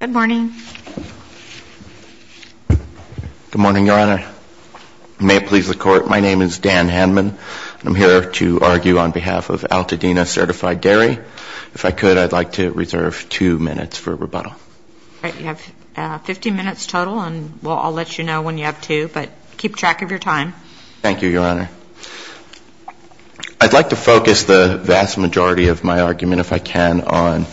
Good morning, Your Honor. May it please the Court, my name is Dan Hanman. I'm here to argue on behalf of Alta-Dena Certified Dairy. If I could, I'd like to reserve two minutes for rebuttal. All right, you have 15 minutes total, and I'll let you know when you have two, but keep track of your time. Thank you, Your Honor. I'd like to focus the vast majority of my argument, if I can, on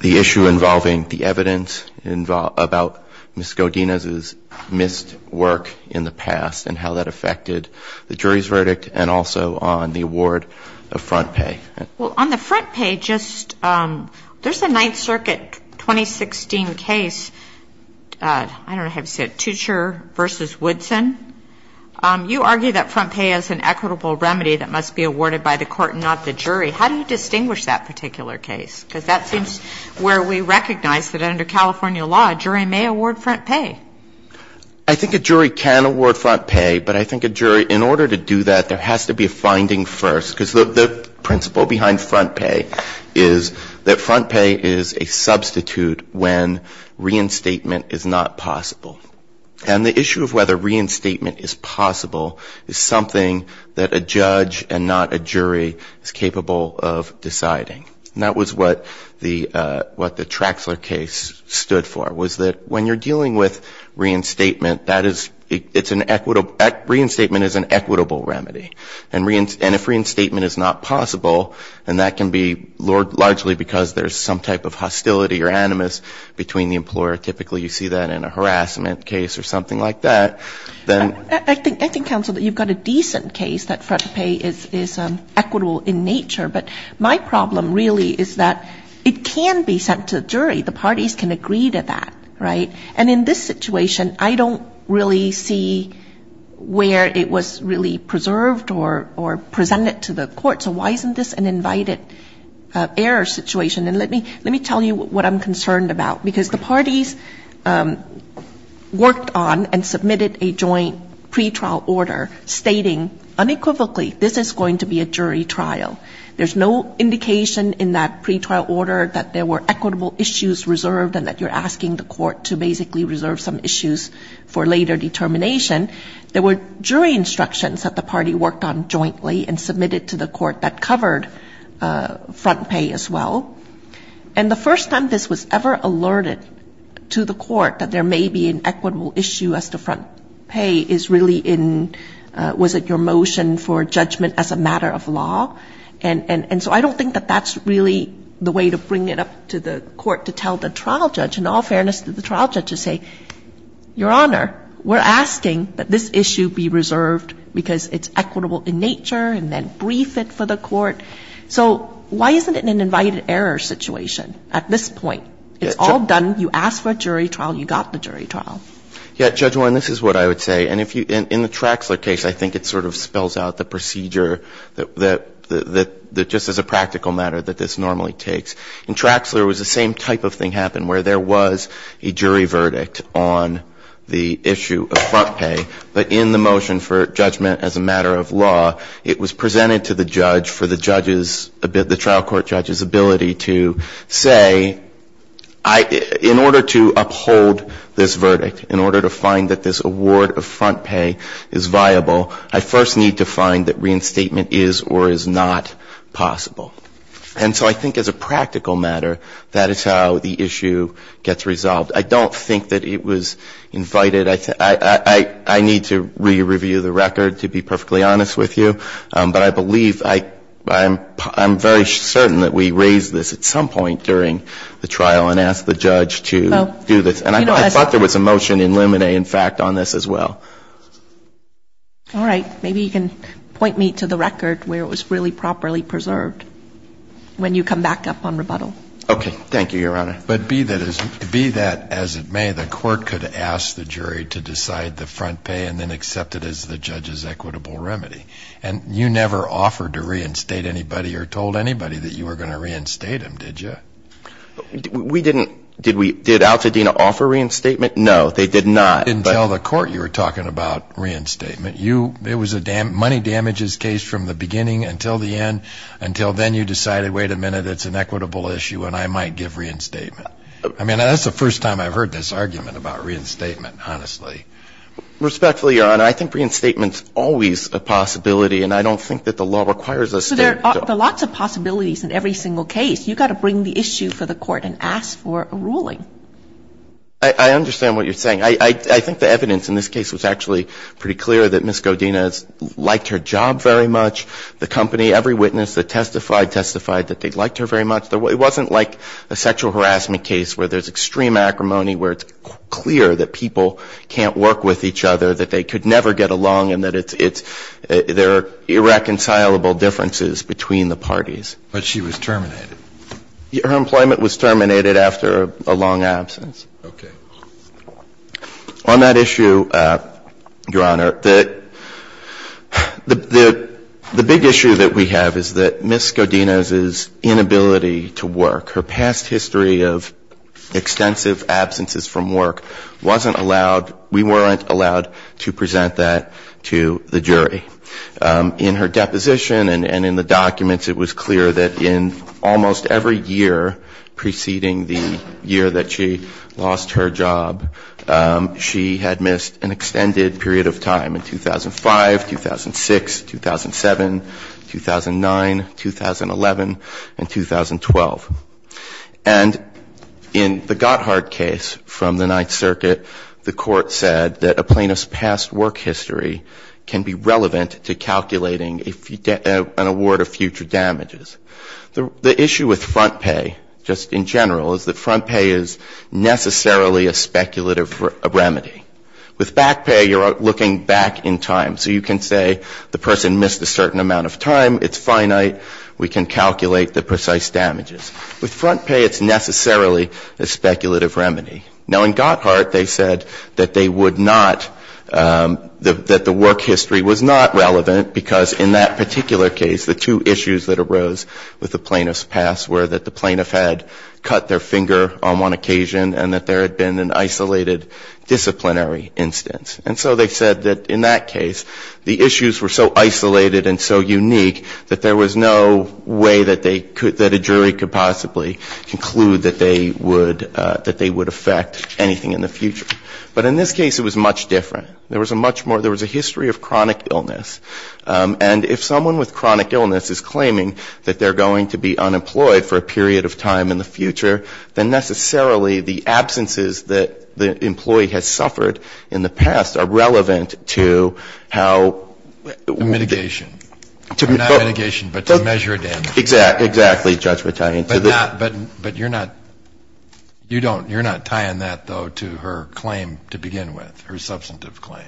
the issue involving the evidence about Ms. Godinez's missed work in the past and how that affected the jury's verdict and also on the award of front pay. Well, on the front pay, just, there's a Ninth Circuit 2016 case, I don't know how to say it, Tucher v. Woodson. You argue that front pay is an equitable remedy that must be awarded by the court and not the jury. How do you distinguish that particular case? Because that seems where we recognize that under California law, a jury may award front pay. I think a jury can award front pay, but I think a jury, in order to do that, there has to be a finding first. Because the principle behind front pay is that front pay is a substitute when reinstatement is not possible. And the issue of whether reinstatement is possible is something that a judge and not a jury is capable of deciding. And that was what the Traxler case stood for, was that when you're dealing with reinstatement, that is, it's an equitable, reinstatement is an equitable remedy. And if reinstatement is not possible, and that can be largely because there's some type of hostility or animus between the employer, typically you see that in a harassment case or something like that, then. I think, counsel, that you've got a decent case that front pay is equitable in nature, but my problem really is that it can be sent to the jury. The parties can agree to that, right? And in this situation, I don't really see where it was really preserved or presented to the court. So why isn't this an invited error situation? And let me tell you what I'm concerned about. Because the parties worked on and submitted a joint pretrial order stating unequivocally this is going to be a jury trial. There's no indication in that pretrial order that there were equitable issues reserved and that you're asking the court to basically reserve some issues for later determination. There were jury instructions that the party worked on jointly and submitted to the court that covered front pay as well. And the first time this was ever alerted to the court that there may be an equitable issue as to front pay is really in, was it your motion for judgment as a matter of law? And so I don't think that that's really the way to bring it up to the court to tell the trial judge. In all fairness to the trial judge, just say, Your Honor, we're asking that this issue be reserved because it's equitable in nature and then brief it for the court. So why isn't it an invited error situation at this point? It's all done. You asked for a jury trial. You got the jury trial. Yeah, Judge Warren, this is what I would say. And if you, in the Traxler case, I think it sort of spells out the procedure that just as a practical matter that this normally takes. In Traxler it was the same type of thing happened where there was a jury verdict on the issue of front pay. But in the motion for judgment as a matter of law, it was presented to the judge for the judge's, the trial court judge's ability to say, in order to uphold this verdict, in order to find that this award of front pay is viable, I first need to find that reinstatement is or is not possible. And so I think as a practical matter, that is how the issue gets resolved. I don't think that it was invited. I don't think that it was invited. And I think that it was presented to the judge for the judge to say, I need to re-review the record, to be perfectly honest with you. But I believe, I'm very certain that we raised this at some point during the trial and asked the judge to do this. And I thought there was a motion in Luminae, in fact, on this as well. All right. Maybe you can point me to the record where it was really properly preserved when you come back up on rebuttal. Okay. Thank you, Your Honor. But be that as it may, the court could ask the jury to decide the front pay and then accept it as the judge's equitable remedy. And you never offered to reinstate anybody or told anybody that you were going to reinstate him, did you? We didn't. Did Al-Fadina offer reinstatement? No, they did not. You didn't tell the court you were talking about reinstatement. It was a money damages case from the beginning until the end, until then you decided, wait a minute, it's an equitable issue and I might give reinstatement. I mean, that's the first time I've heard this argument about reinstatement, honestly. Respectfully, Your Honor, I think reinstatement's always a possibility and I don't think that the law requires us to. So there are lots of possibilities in every single case. You've got to bring the issue for the court and ask for a ruling. I understand what you're saying. I think the evidence in this case was actually pretty clear that Ms. Godine has liked her job very much. The company, every witness that testified, testified that they liked her very much. It wasn't like a sexual harassment case where there's extreme acrimony, where it's clear that people can't work with each other, that they could never get along and that it's irreconcilable differences between the parties. But she was terminated. Her employment was terminated after a long absence. Okay. On that issue, Your Honor, the big issue that we have is that Ms. Godine's inability to work, her past history of extensive absences from work wasn't allowed, we weren't allowed to present that to the jury. In her deposition and in the documents, it was clear that in almost every year preceding the year that she lost her job, she had missed an extended period of time in 2005, 2006, 2007, 2009, 2011, and 2012. And in the Gotthard case from the Ninth Circuit, the Court said that a plaintiff's past work history can be relevant to calculating an award of future damages. The issue with front pay just in general is that front pay is necessarily a speculative remedy. With back pay, you're looking back in time. So you can say the person missed a certain amount of time. It's finite. We can calculate the precise damages. With front pay, it's necessarily a speculative remedy. Now, in Gotthard, they said that they would not, that the work history was not relevant because in that particular case, the two issues that arose with the plaintiff's past were that the plaintiff had cut their finger on one occasion and that there had been an isolated disciplinary instance. And so they said that in that case, the issues were so isolated and so unique that there was no way that they could, that a jury could possibly conclude that they would affect anything in the future. But in this case, it was much different. There was a much more, there was a history of chronic illness. And if someone with chronic illness is claiming that they're going to be unemployed for a period of time in the future, then necessarily the absences that the employee has suffered in the past are relevant to how Mitigation. Not mitigation, but to measure damages. Exactly, Judge Battaglia. But you're not, you don't, you're not tying that, though, to her claim to begin with, her substantive claim.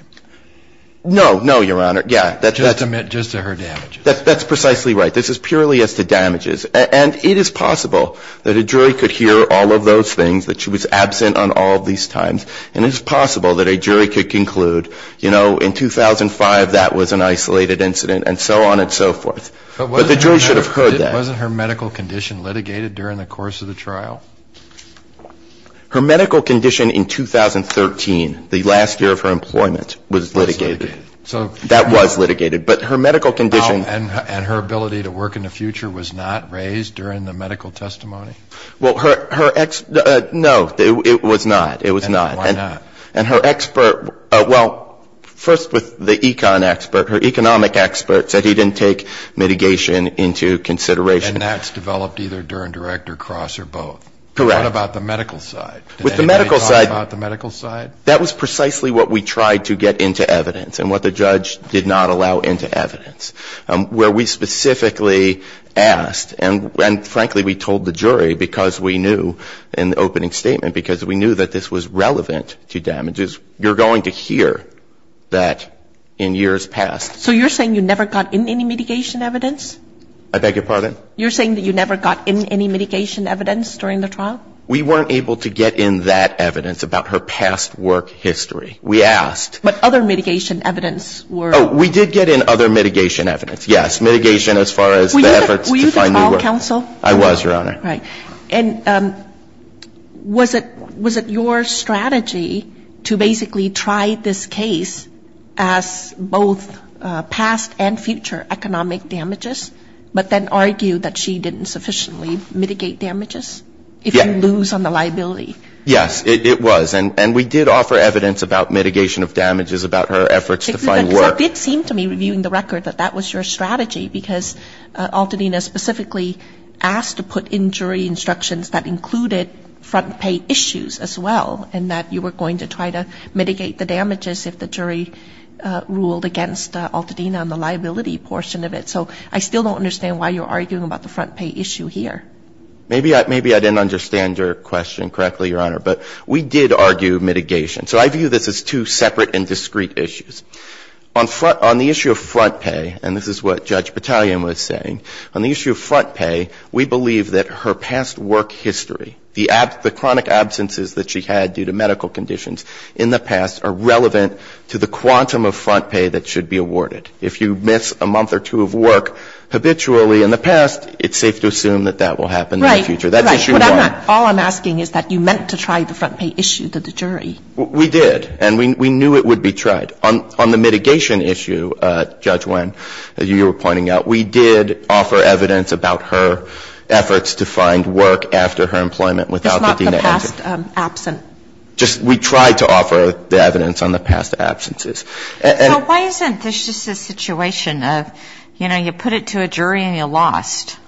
No, no, Your Honor. Yeah. Just to her damages. That's precisely right. This is purely as to damages. And it is possible that a jury could hear all of those things, that she was absent on all of these times. And it's possible that a jury could conclude, you know, in 2005, that was an isolated incident and so on and so forth. But the jury should have heard that. Wasn't her medical condition litigated during the course of the trial? Her medical condition in 2013, the last year of her employment, was litigated. Was litigated. That was litigated. But her medical condition And her ability to work in the future was not raised during the medical testimony? Well, her, no, it was not. It was not. And why not? And her expert, well, first with the econ expert, her economic expert said he didn't take mitigation into consideration. And that's developed either during direct or cross or both? Correct. What about the medical side? With the medical side Did anybody talk about the medical side? That was precisely what we tried to get into evidence and what the judge did not allow into evidence. Where we specifically asked and frankly we told the jury because we knew in the opening statement because we knew that this was relevant to damages, you're going to hear that in years past. So you're saying you never got in any mitigation evidence? I beg your pardon? You're saying that you never got in any mitigation evidence during the trial? We weren't able to get in that evidence about her past work history. We asked. But other mitigation evidence were Oh, we did get in other mitigation evidence. Yes, mitigation as far as the efforts to find new work Were you the trial counsel? I was, Your Honor. Right. And was it your strategy to basically try this case as both past and future economic damages but then argue that she didn't sufficiently mitigate damages if you lose on the liability? Yes, it was. And we did offer evidence about mitigation of damages about her efforts to find work. It did seem to me reviewing the record that that was your strategy because Altadena specifically asked to put in jury instructions that included front pay issues as well and that you were going to try to mitigate the damages if the jury ruled against Altadena on the liability portion of it. So I still don't understand why you're arguing about the front pay issue here. Maybe I didn't understand your question correctly, Your Honor. But we did argue mitigation. So I view this as two separate and discrete issues. On the issue of front pay, and this is what Judge Battalion was saying, on the issue of front pay, we believe that her past work history, the chronic absences that she had due to medical conditions in the past are relevant to the quantum of front pay that should be awarded. If you miss a month or two of work habitually in the past, it's safe to assume that that will happen in the future. That's issue one. Right. Right. But all I'm asking is that you meant to try the front pay issue to the jury. We did. And we knew it would be tried. On the mitigation issue, Judge Wen, as you were pointing out, we did offer evidence about her efforts to find work after her employment without Altadena entering. It's not the past absent. Just we tried to offer the evidence on the past absences. So why isn't this just a situation of, you know, you put it to a jury and you lost?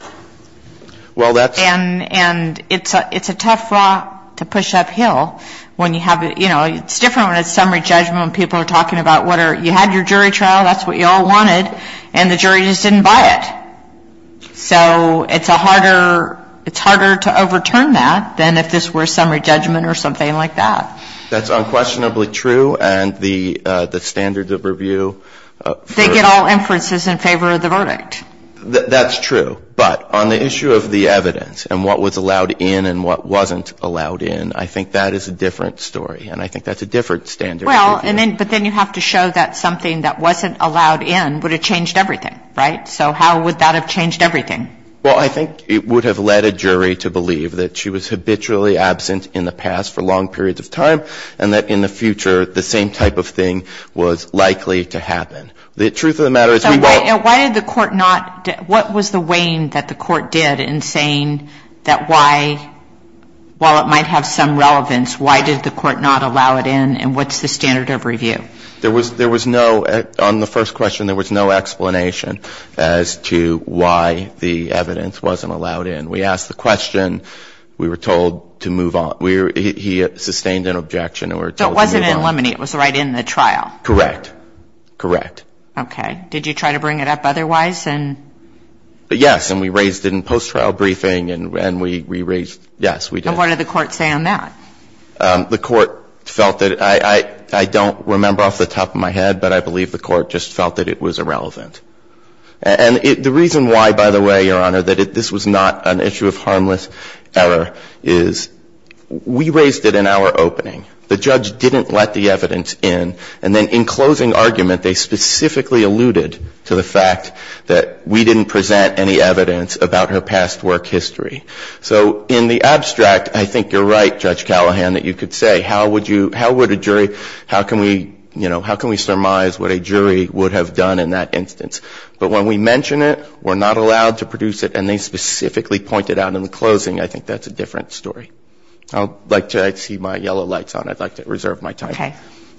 Well, that's ‑‑ And it's a tough rock to push uphill when you have, you know, it's different when it's summary judgment when people are talking about you had your jury trial, that's what you all wanted, and the jury just didn't buy it. So it's a harder, it's harder to overturn that than if this were summary judgment or something like that. That's unquestionably true. And the standards of review for ‑‑ They get all inferences in favor of the verdict. That's true. But on the issue of the evidence and what was allowed in and what wasn't allowed in, I think that is a different story. And I think that's a different standard. Well, but then you have to show that something that wasn't allowed in would have changed everything, right? So how would that have changed everything? Well, I think it would have led a jury to believe that she was habitually absent in the past for long periods of time and that in the future the same type of thing was likely to happen. The truth of the matter is we won't ‑‑ So why did the court not ‑‑ what was the wane that the court did in saying that why, while it might have some relevance, why did the court not allow it in and what's the standard of review? There was no, on the first question, there was no explanation as to why the evidence wasn't allowed in. We asked the question. We were told to move on. He sustained an objection and we were told to move on. So it wasn't in Lemony. It was right in the trial. Correct. Correct. Okay. Did you try to bring it up otherwise? Yes. And we raised it in post-trial briefing and we raised ‑‑ yes, we did. And what did the court say on that? The court felt that ‑‑ I don't remember off the top of my head, but I believe the court just felt that it was irrelevant. And the reason why, by the way, Your Honor, that this was not an issue of harmless error is we raised it in our opening. The judge didn't let the evidence in. And then in closing argument, they specifically alluded to the fact that we didn't present any evidence about her past work history. So in the abstract, I think you're right, Judge Callahan, that you could say how would you ‑‑ how would a jury ‑‑ how can we, you know, how can we surmise what a jury would have done in that instance? But when we mention it, we're not allowed to produce it, and they specifically point it out in the closing. I think that's a different story. I'd like to ‑‑ I see my yellow lights on. I'd like to reserve my time. Okay.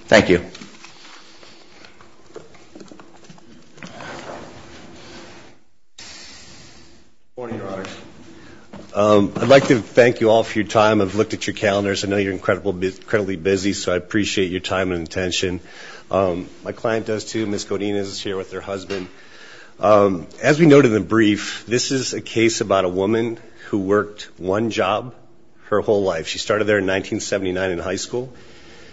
Thank you. Good morning, Your Honor. I'd like to thank you all for your time. I've looked at your calendars. I know you're incredibly busy, so I appreciate your time and attention. My client does, too. Ms. Godinez is here with her husband. As we noted in the brief, this is a case about a woman who worked one job her whole life. She started there in 1979 in high school.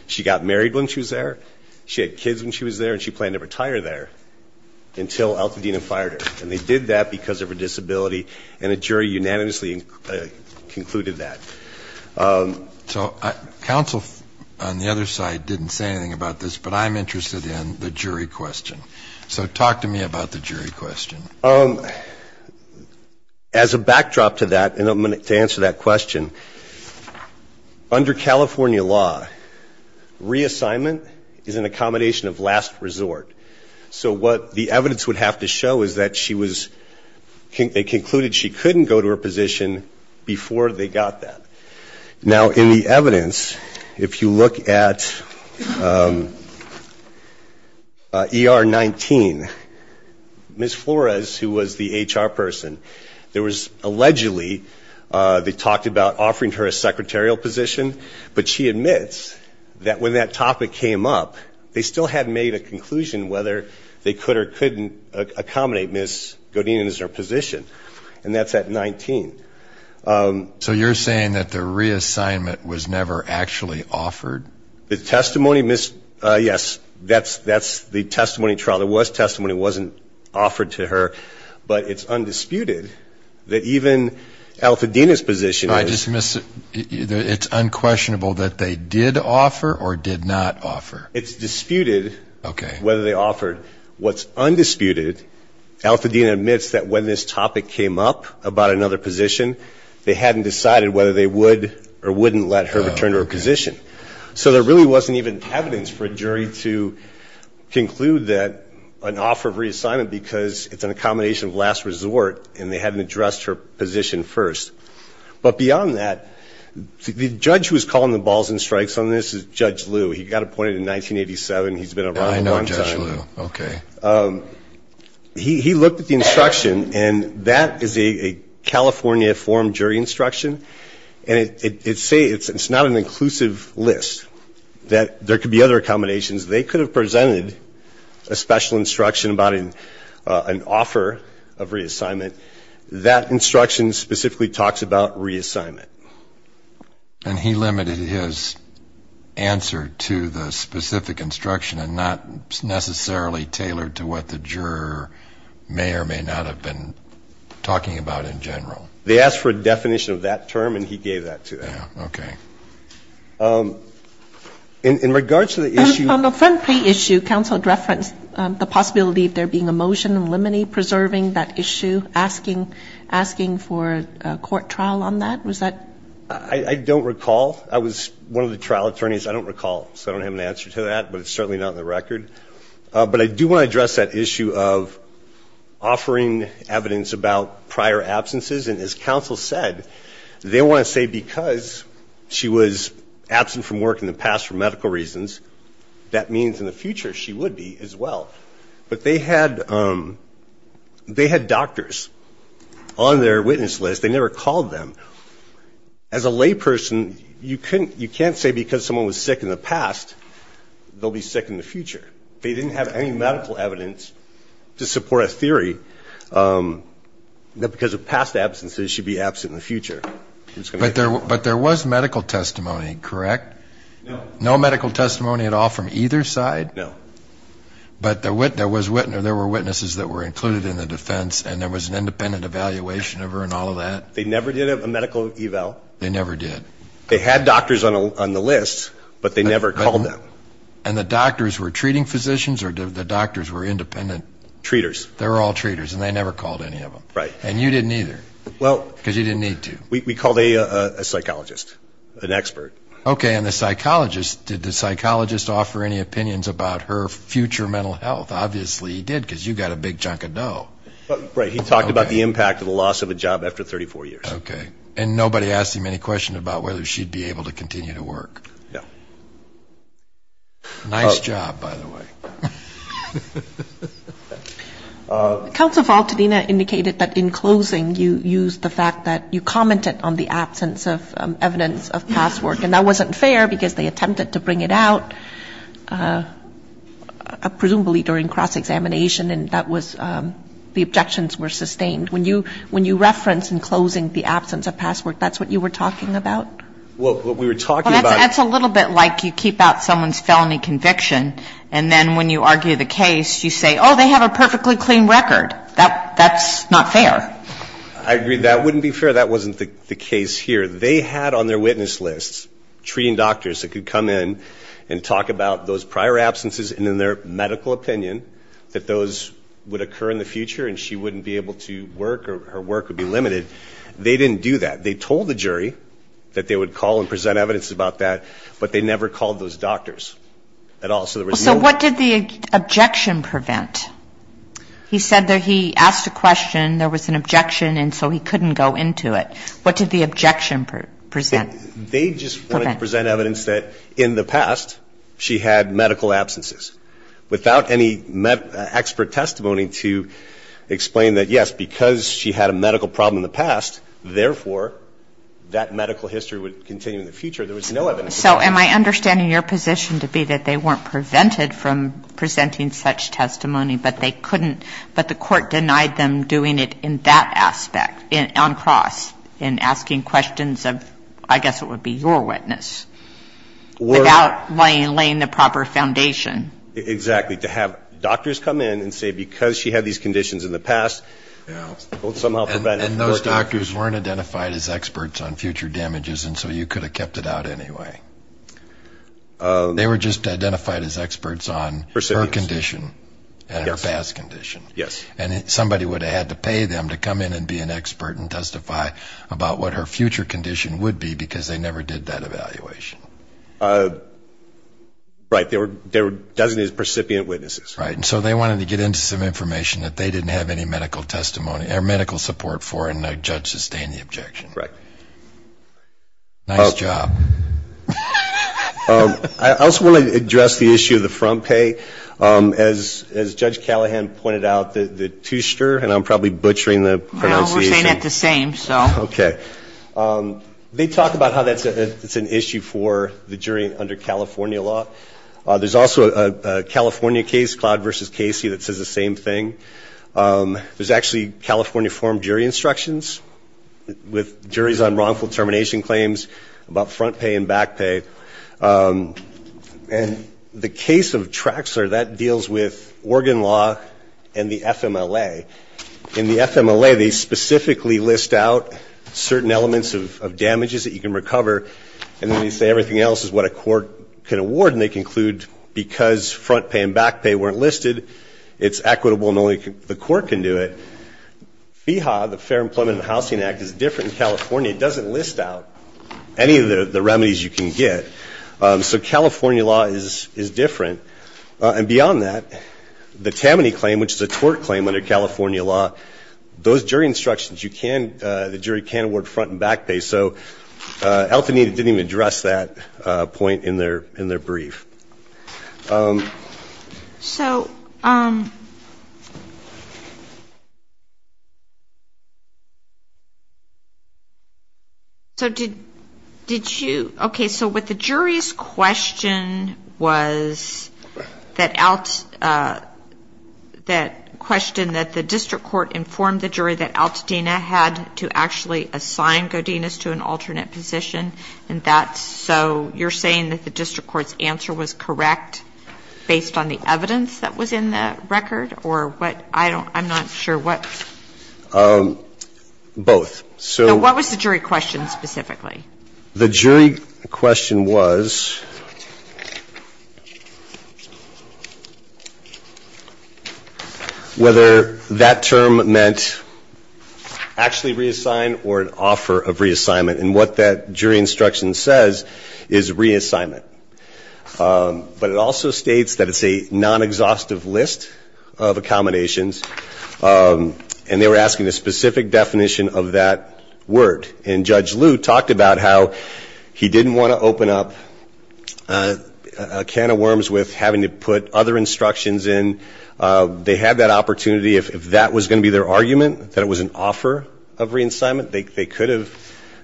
She got married when she was there. She had kids when she was there, and she planned to retire there until Altadena fired her. And they did that because of her disability, and a jury unanimously concluded that. So counsel on the other side didn't say anything about this, but I'm interested in the jury question. So talk to me about the jury question. As a backdrop to that, and to answer that question, under California law, reassignment is an accommodation of last resort. So what the evidence would have to show is that she was ‑‑ they concluded she couldn't go to her position before they got that. Now, in the evidence, if you look at ER 19, Ms. Flores, who was the HR person, there was allegedly ‑‑ they talked about offering her a secretarial position, but she admits that when that topic came up, they still hadn't made a conclusion whether they could or couldn't accommodate Ms. Godinez in her position. And that's at 19. So you're saying that the reassignment was never actually offered? The testimony, yes, that's the testimony trial. There was testimony that wasn't offered to her, but it's undisputed that even Altadena's position I just missed it. It's unquestionable that they did offer or did not offer. It's disputed whether they offered. What's undisputed, Altadena admits that when this topic came up about another position, they hadn't decided whether they would or wouldn't let her return to her position. So there really wasn't even evidence for a jury to conclude that an offer of reassignment because it's an accommodation of last resort and they hadn't addressed her position first. But beyond that, the judge who was calling the balls and strikes on this is Judge Lew. He got appointed in 1987. He's been around a long time. I know Judge Lew. Okay. He looked at the instruction, and that is a California forum jury instruction. And it's not an inclusive list. There could be other accommodations. They could have presented a special instruction about an offer of reassignment. That instruction specifically talks about reassignment. And he limited his answer to the specific instruction and not necessarily tailored to what the juror may or may not have been talking about in general. They asked for a definition of that term, and he gave that to them. Yeah. Okay. In regards to the issue. On the Fenprey issue, counsel referenced the possibility of there being a motion in Liminey preserving that issue, asking for a court trial on that. Was that? I don't recall. I was one of the trial attorneys. I don't recall, so I don't have an answer to that, but it's certainly not in the record. But I do want to address that issue of offering evidence about prior absences. And as counsel said, they want to say because she was absent from work in the past for medical reasons, that means in the future she would be as well. But they had doctors on their witness list. They never called them. As a layperson, you can't say because someone was sick in the past, they'll be sick in the future. They didn't have any medical evidence to support a theory that because of past absences she'd be absent in the future. But there was medical testimony, correct? No. No medical testimony at all from either side? No. But there were witnesses that were included in the defense, and there was an independent evaluation of her and all of that? They never did a medical eval. They never did. They had doctors on the list, but they never called them. And the doctors were treating physicians or the doctors were independent? Treaters. They were all treaters, and they never called any of them. Right. And you didn't either because you didn't need to. We called a psychologist, an expert. Okay, and the psychologist, did the psychologist offer any opinions about her future mental health? Obviously he did because you got a big chunk of dough. Right. He talked about the impact of the loss of a job after 34 years. Okay. And nobody asked him any questions about whether she'd be able to continue to work? No. Nice job, by the way. Counsel Faltadina indicated that in closing you used the fact that you commented on the absence of evidence of past work, and that wasn't fair because they attempted to bring it out presumably during cross-examination, and that was the objections were sustained. When you reference in closing the absence of past work, that's what you were talking about? Well, what we were talking about. Well, that's a little bit like you keep out someone's felony conviction, and then when you argue the case, you say, oh, they have a perfectly clean record. That's not fair. I agree. That wouldn't be fair. That wasn't the case here. They had on their witness list treating doctors that could come in and talk about those prior absences, and in their medical opinion that those would occur in the future and she wouldn't be able to work or her work would be limited. They didn't do that. They told the jury that they would call and present evidence about that, but they never called those doctors at all. So what did the objection prevent? He said that he asked a question, there was an objection, and so he couldn't go into it. What did the objection present? They just wanted to present evidence that in the past she had medical absences. Without any expert testimony to explain that, yes, because she had a medical problem in the past, therefore, that medical history would continue in the future. There was no evidence of that. So am I understanding your position to be that they weren't prevented from presenting such testimony, but they couldn't, but the Court denied them doing it in that aspect on cross in asking questions of, I guess it would be your witness, without laying the proper foundation? Exactly, to have doctors come in and say because she had these conditions in the past, it would somehow prevent it from working. And those doctors weren't identified as experts on future damages, and so you could have kept it out anyway. They were just identified as experts on her condition and her past condition. Yes. And somebody would have had to pay them to come in and be an expert and testify about what her future condition would be because they never did that evaluation. Right. They were designated as precipient witnesses. Right. And so they wanted to get into some information that they didn't have any medical testimony or medical support for, and the judge sustained the objection. Right. Nice job. I also wanted to address the issue of the front pay. As Judge Callahan pointed out, the two-ster, and I'm probably butchering the pronunciation. No, we're saying it the same, so. Okay. They talk about how that's an issue for the jury under California law. There's also a California case, Cloud v. Casey, that says the same thing. There's actually California forum jury instructions with juries on wrongful termination claims about front pay and back pay. And the case of Traxler, that deals with organ law and the FMLA. In the FMLA, they specifically list out certain elements of damages that you can recover, and then they say everything else is what a court can award, and they conclude because front pay and back pay weren't listed, it's equitable and only the court can do it. FEHA, the Fair Employment and Housing Act, is different in California. It doesn't list out any of the remedies you can get. So California law is different. And beyond that, the Tammany claim, which is a tort claim under California law, those jury instructions, you can, the jury can award front and back pay. So Alteneida didn't even address that point in their brief. So did you, okay, so what the jury's question was, that question that the district court informed the jury that Alteneida had to actually assign Godinez to an alternate position, and that's, so you're saying that the district court's answer was correct based on the evidence that was in the record, or what, I don't, I'm not sure what. Both. So what was the jury question specifically? The jury question was whether that term meant actually reassign or an offer of reassignment, and what that jury instruction says is reassignment. But it also states that it's a non-exhaustive list of accommodations, and they were asking a specific definition of that word. And Judge Liu talked about how he didn't want to open up a can of worms with having to put other instructions in. They had that opportunity. If that was going to be their argument, that it was an offer of reassignment, they could have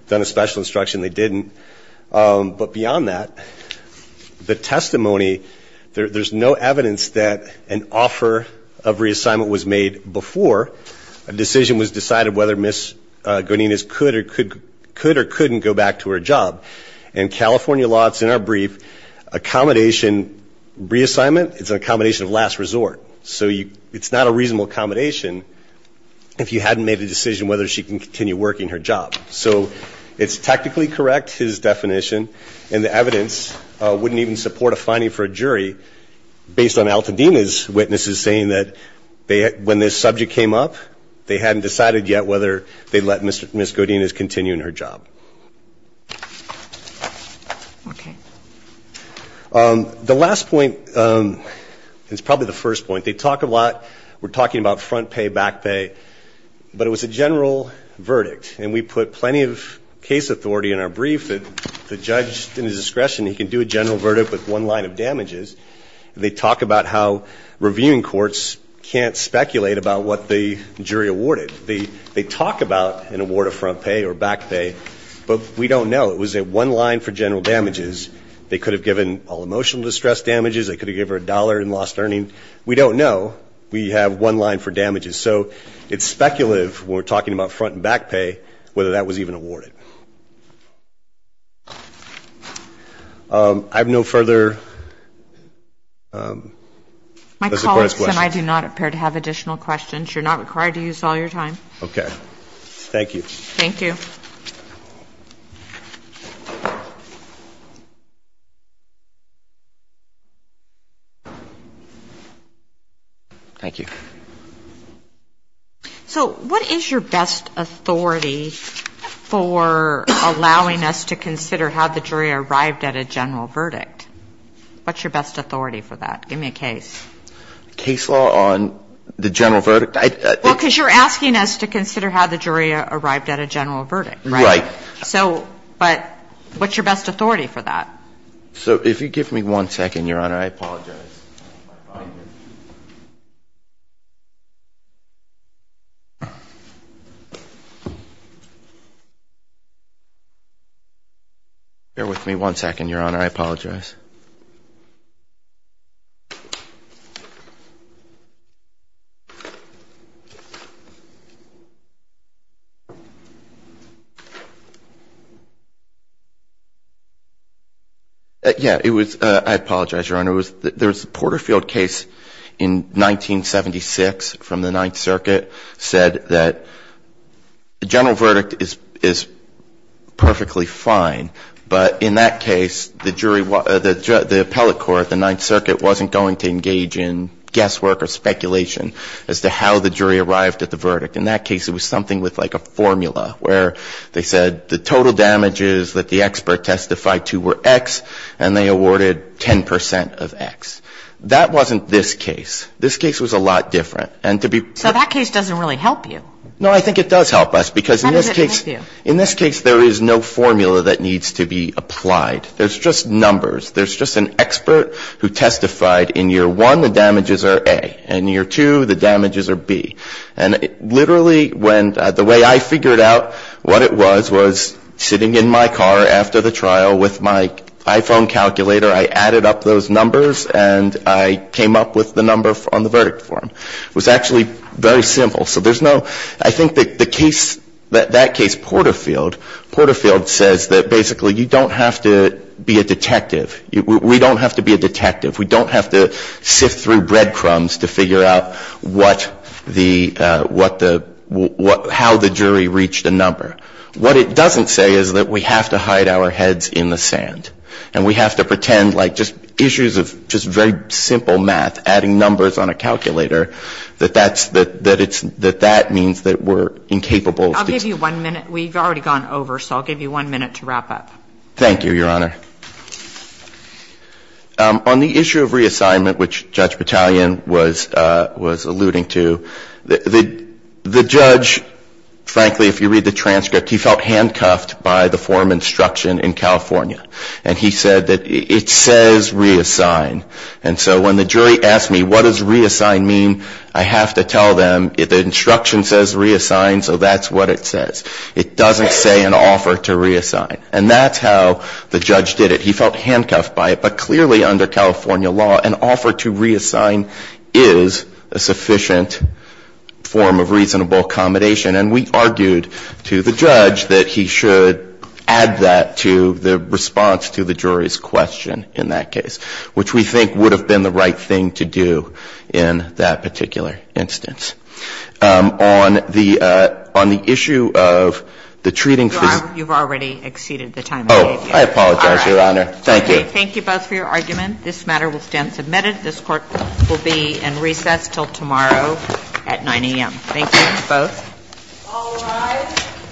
done a special instruction. They didn't. But beyond that, the testimony, there's no evidence that an offer of reassignment was made before a decision was decided whether Ms. Godinez could or couldn't go back to her job. In California law, it's in our brief, accommodation, reassignment, it's an accommodation of last resort. So it's not a reasonable accommodation if you hadn't made a decision whether she can continue working her job. So it's technically correct, his definition, and the evidence wouldn't even support a finding for a jury based on Altadena's witnesses saying that when this subject came up, they hadn't decided yet whether they'd let Ms. Godinez continue in her job. Okay. The last point is probably the first point. They talk a lot, we're talking about front pay, back pay, but it was a general verdict, and we put plenty of case authority in our brief that the judge, in his discretion, he can do a general verdict with one line of damages. They talk about how reviewing courts can't speculate about what the jury awarded. They talk about an award of front pay or back pay, but we don't know. It was one line for general damages. They could have given all emotional distress damages. They could have given her a dollar in lost earning. We don't know. We have one line for damages. So it's speculative when we're talking about front and back pay whether that was even awarded. I have no further. My colleagues and I do not appear to have additional questions. You're not required to use all your time. Okay. Thank you. Thank you. Thank you. So what is your best authority for allowing us to consider how the jury arrived at a general verdict? What's your best authority for that? Give me a case. Case law on the general verdict. Well, because you're asking us to consider how the jury arrived at a general verdict, right? Right. So but what's your best authority for that? So if you give me one second, Your Honor, I apologize. Bear with me one second, Your Honor. I apologize. Yeah. It was I apologize, Your Honor. There was a Porterfield case in 1976 from the Ninth Circuit said that the general verdict is perfectly fine. But in that case, the jury the appellate court, the Ninth Circuit, wasn't going to engage in guesswork or speculation as to how the jury arrived at the verdict. In that case, it was something with like a formula where they said the total damages that the expert testified to were X, and they awarded 10 percent of X. That wasn't this case. This case was a lot different. So that case doesn't really help you. No, I think it does help us because in this case there is no formula that needs to be applied. There's just numbers. There's just an expert who testified in year one the damages are A, and year two the damages are B. And literally when the way I figured out what it was was sitting in my car after the trial with my iPhone calculator, I added up those numbers and I came up with the number on the verdict form. It was actually very simple. So there's no I think that the case that that case Porterfield, Porterfield says that basically you don't have to be a detective. We don't have to be a detective. We don't have to sift through breadcrumbs to figure out what the, what the, how the jury reached a number. What it doesn't say is that we have to hide our heads in the sand. And we have to pretend like just issues of just very simple math, adding numbers on a calculator, that that's, that it's, that that means that we're incapable. I'll give you one minute. We've already gone over, so I'll give you one minute to wrap up. Thank you, Your Honor. On the issue of reassignment, which Judge Battalion was, was alluding to, the, the, the judge, frankly, if you read the transcript, he felt handcuffed by the form instruction in California. And he said that it says reassign. And so when the jury asked me what does reassign mean, I have to tell them the instruction says reassign, so that's what it says. It doesn't say an offer to reassign. And that's how the judge did it. He felt handcuffed by it. But clearly, under California law, an offer to reassign is a sufficient form of reasonable accommodation. And we argued to the judge that he should add that to the response to the jury's question in that case, which we think would have been the right thing to do in that particular instance. On the, on the issue of the treating of the... You've already exceeded the time. Oh, I apologize, Your Honor. Thank you. Thank you both for your argument. This matter will stand submitted. This Court will be in recess until tomorrow at 9 a.m. Thank you, both. All rise.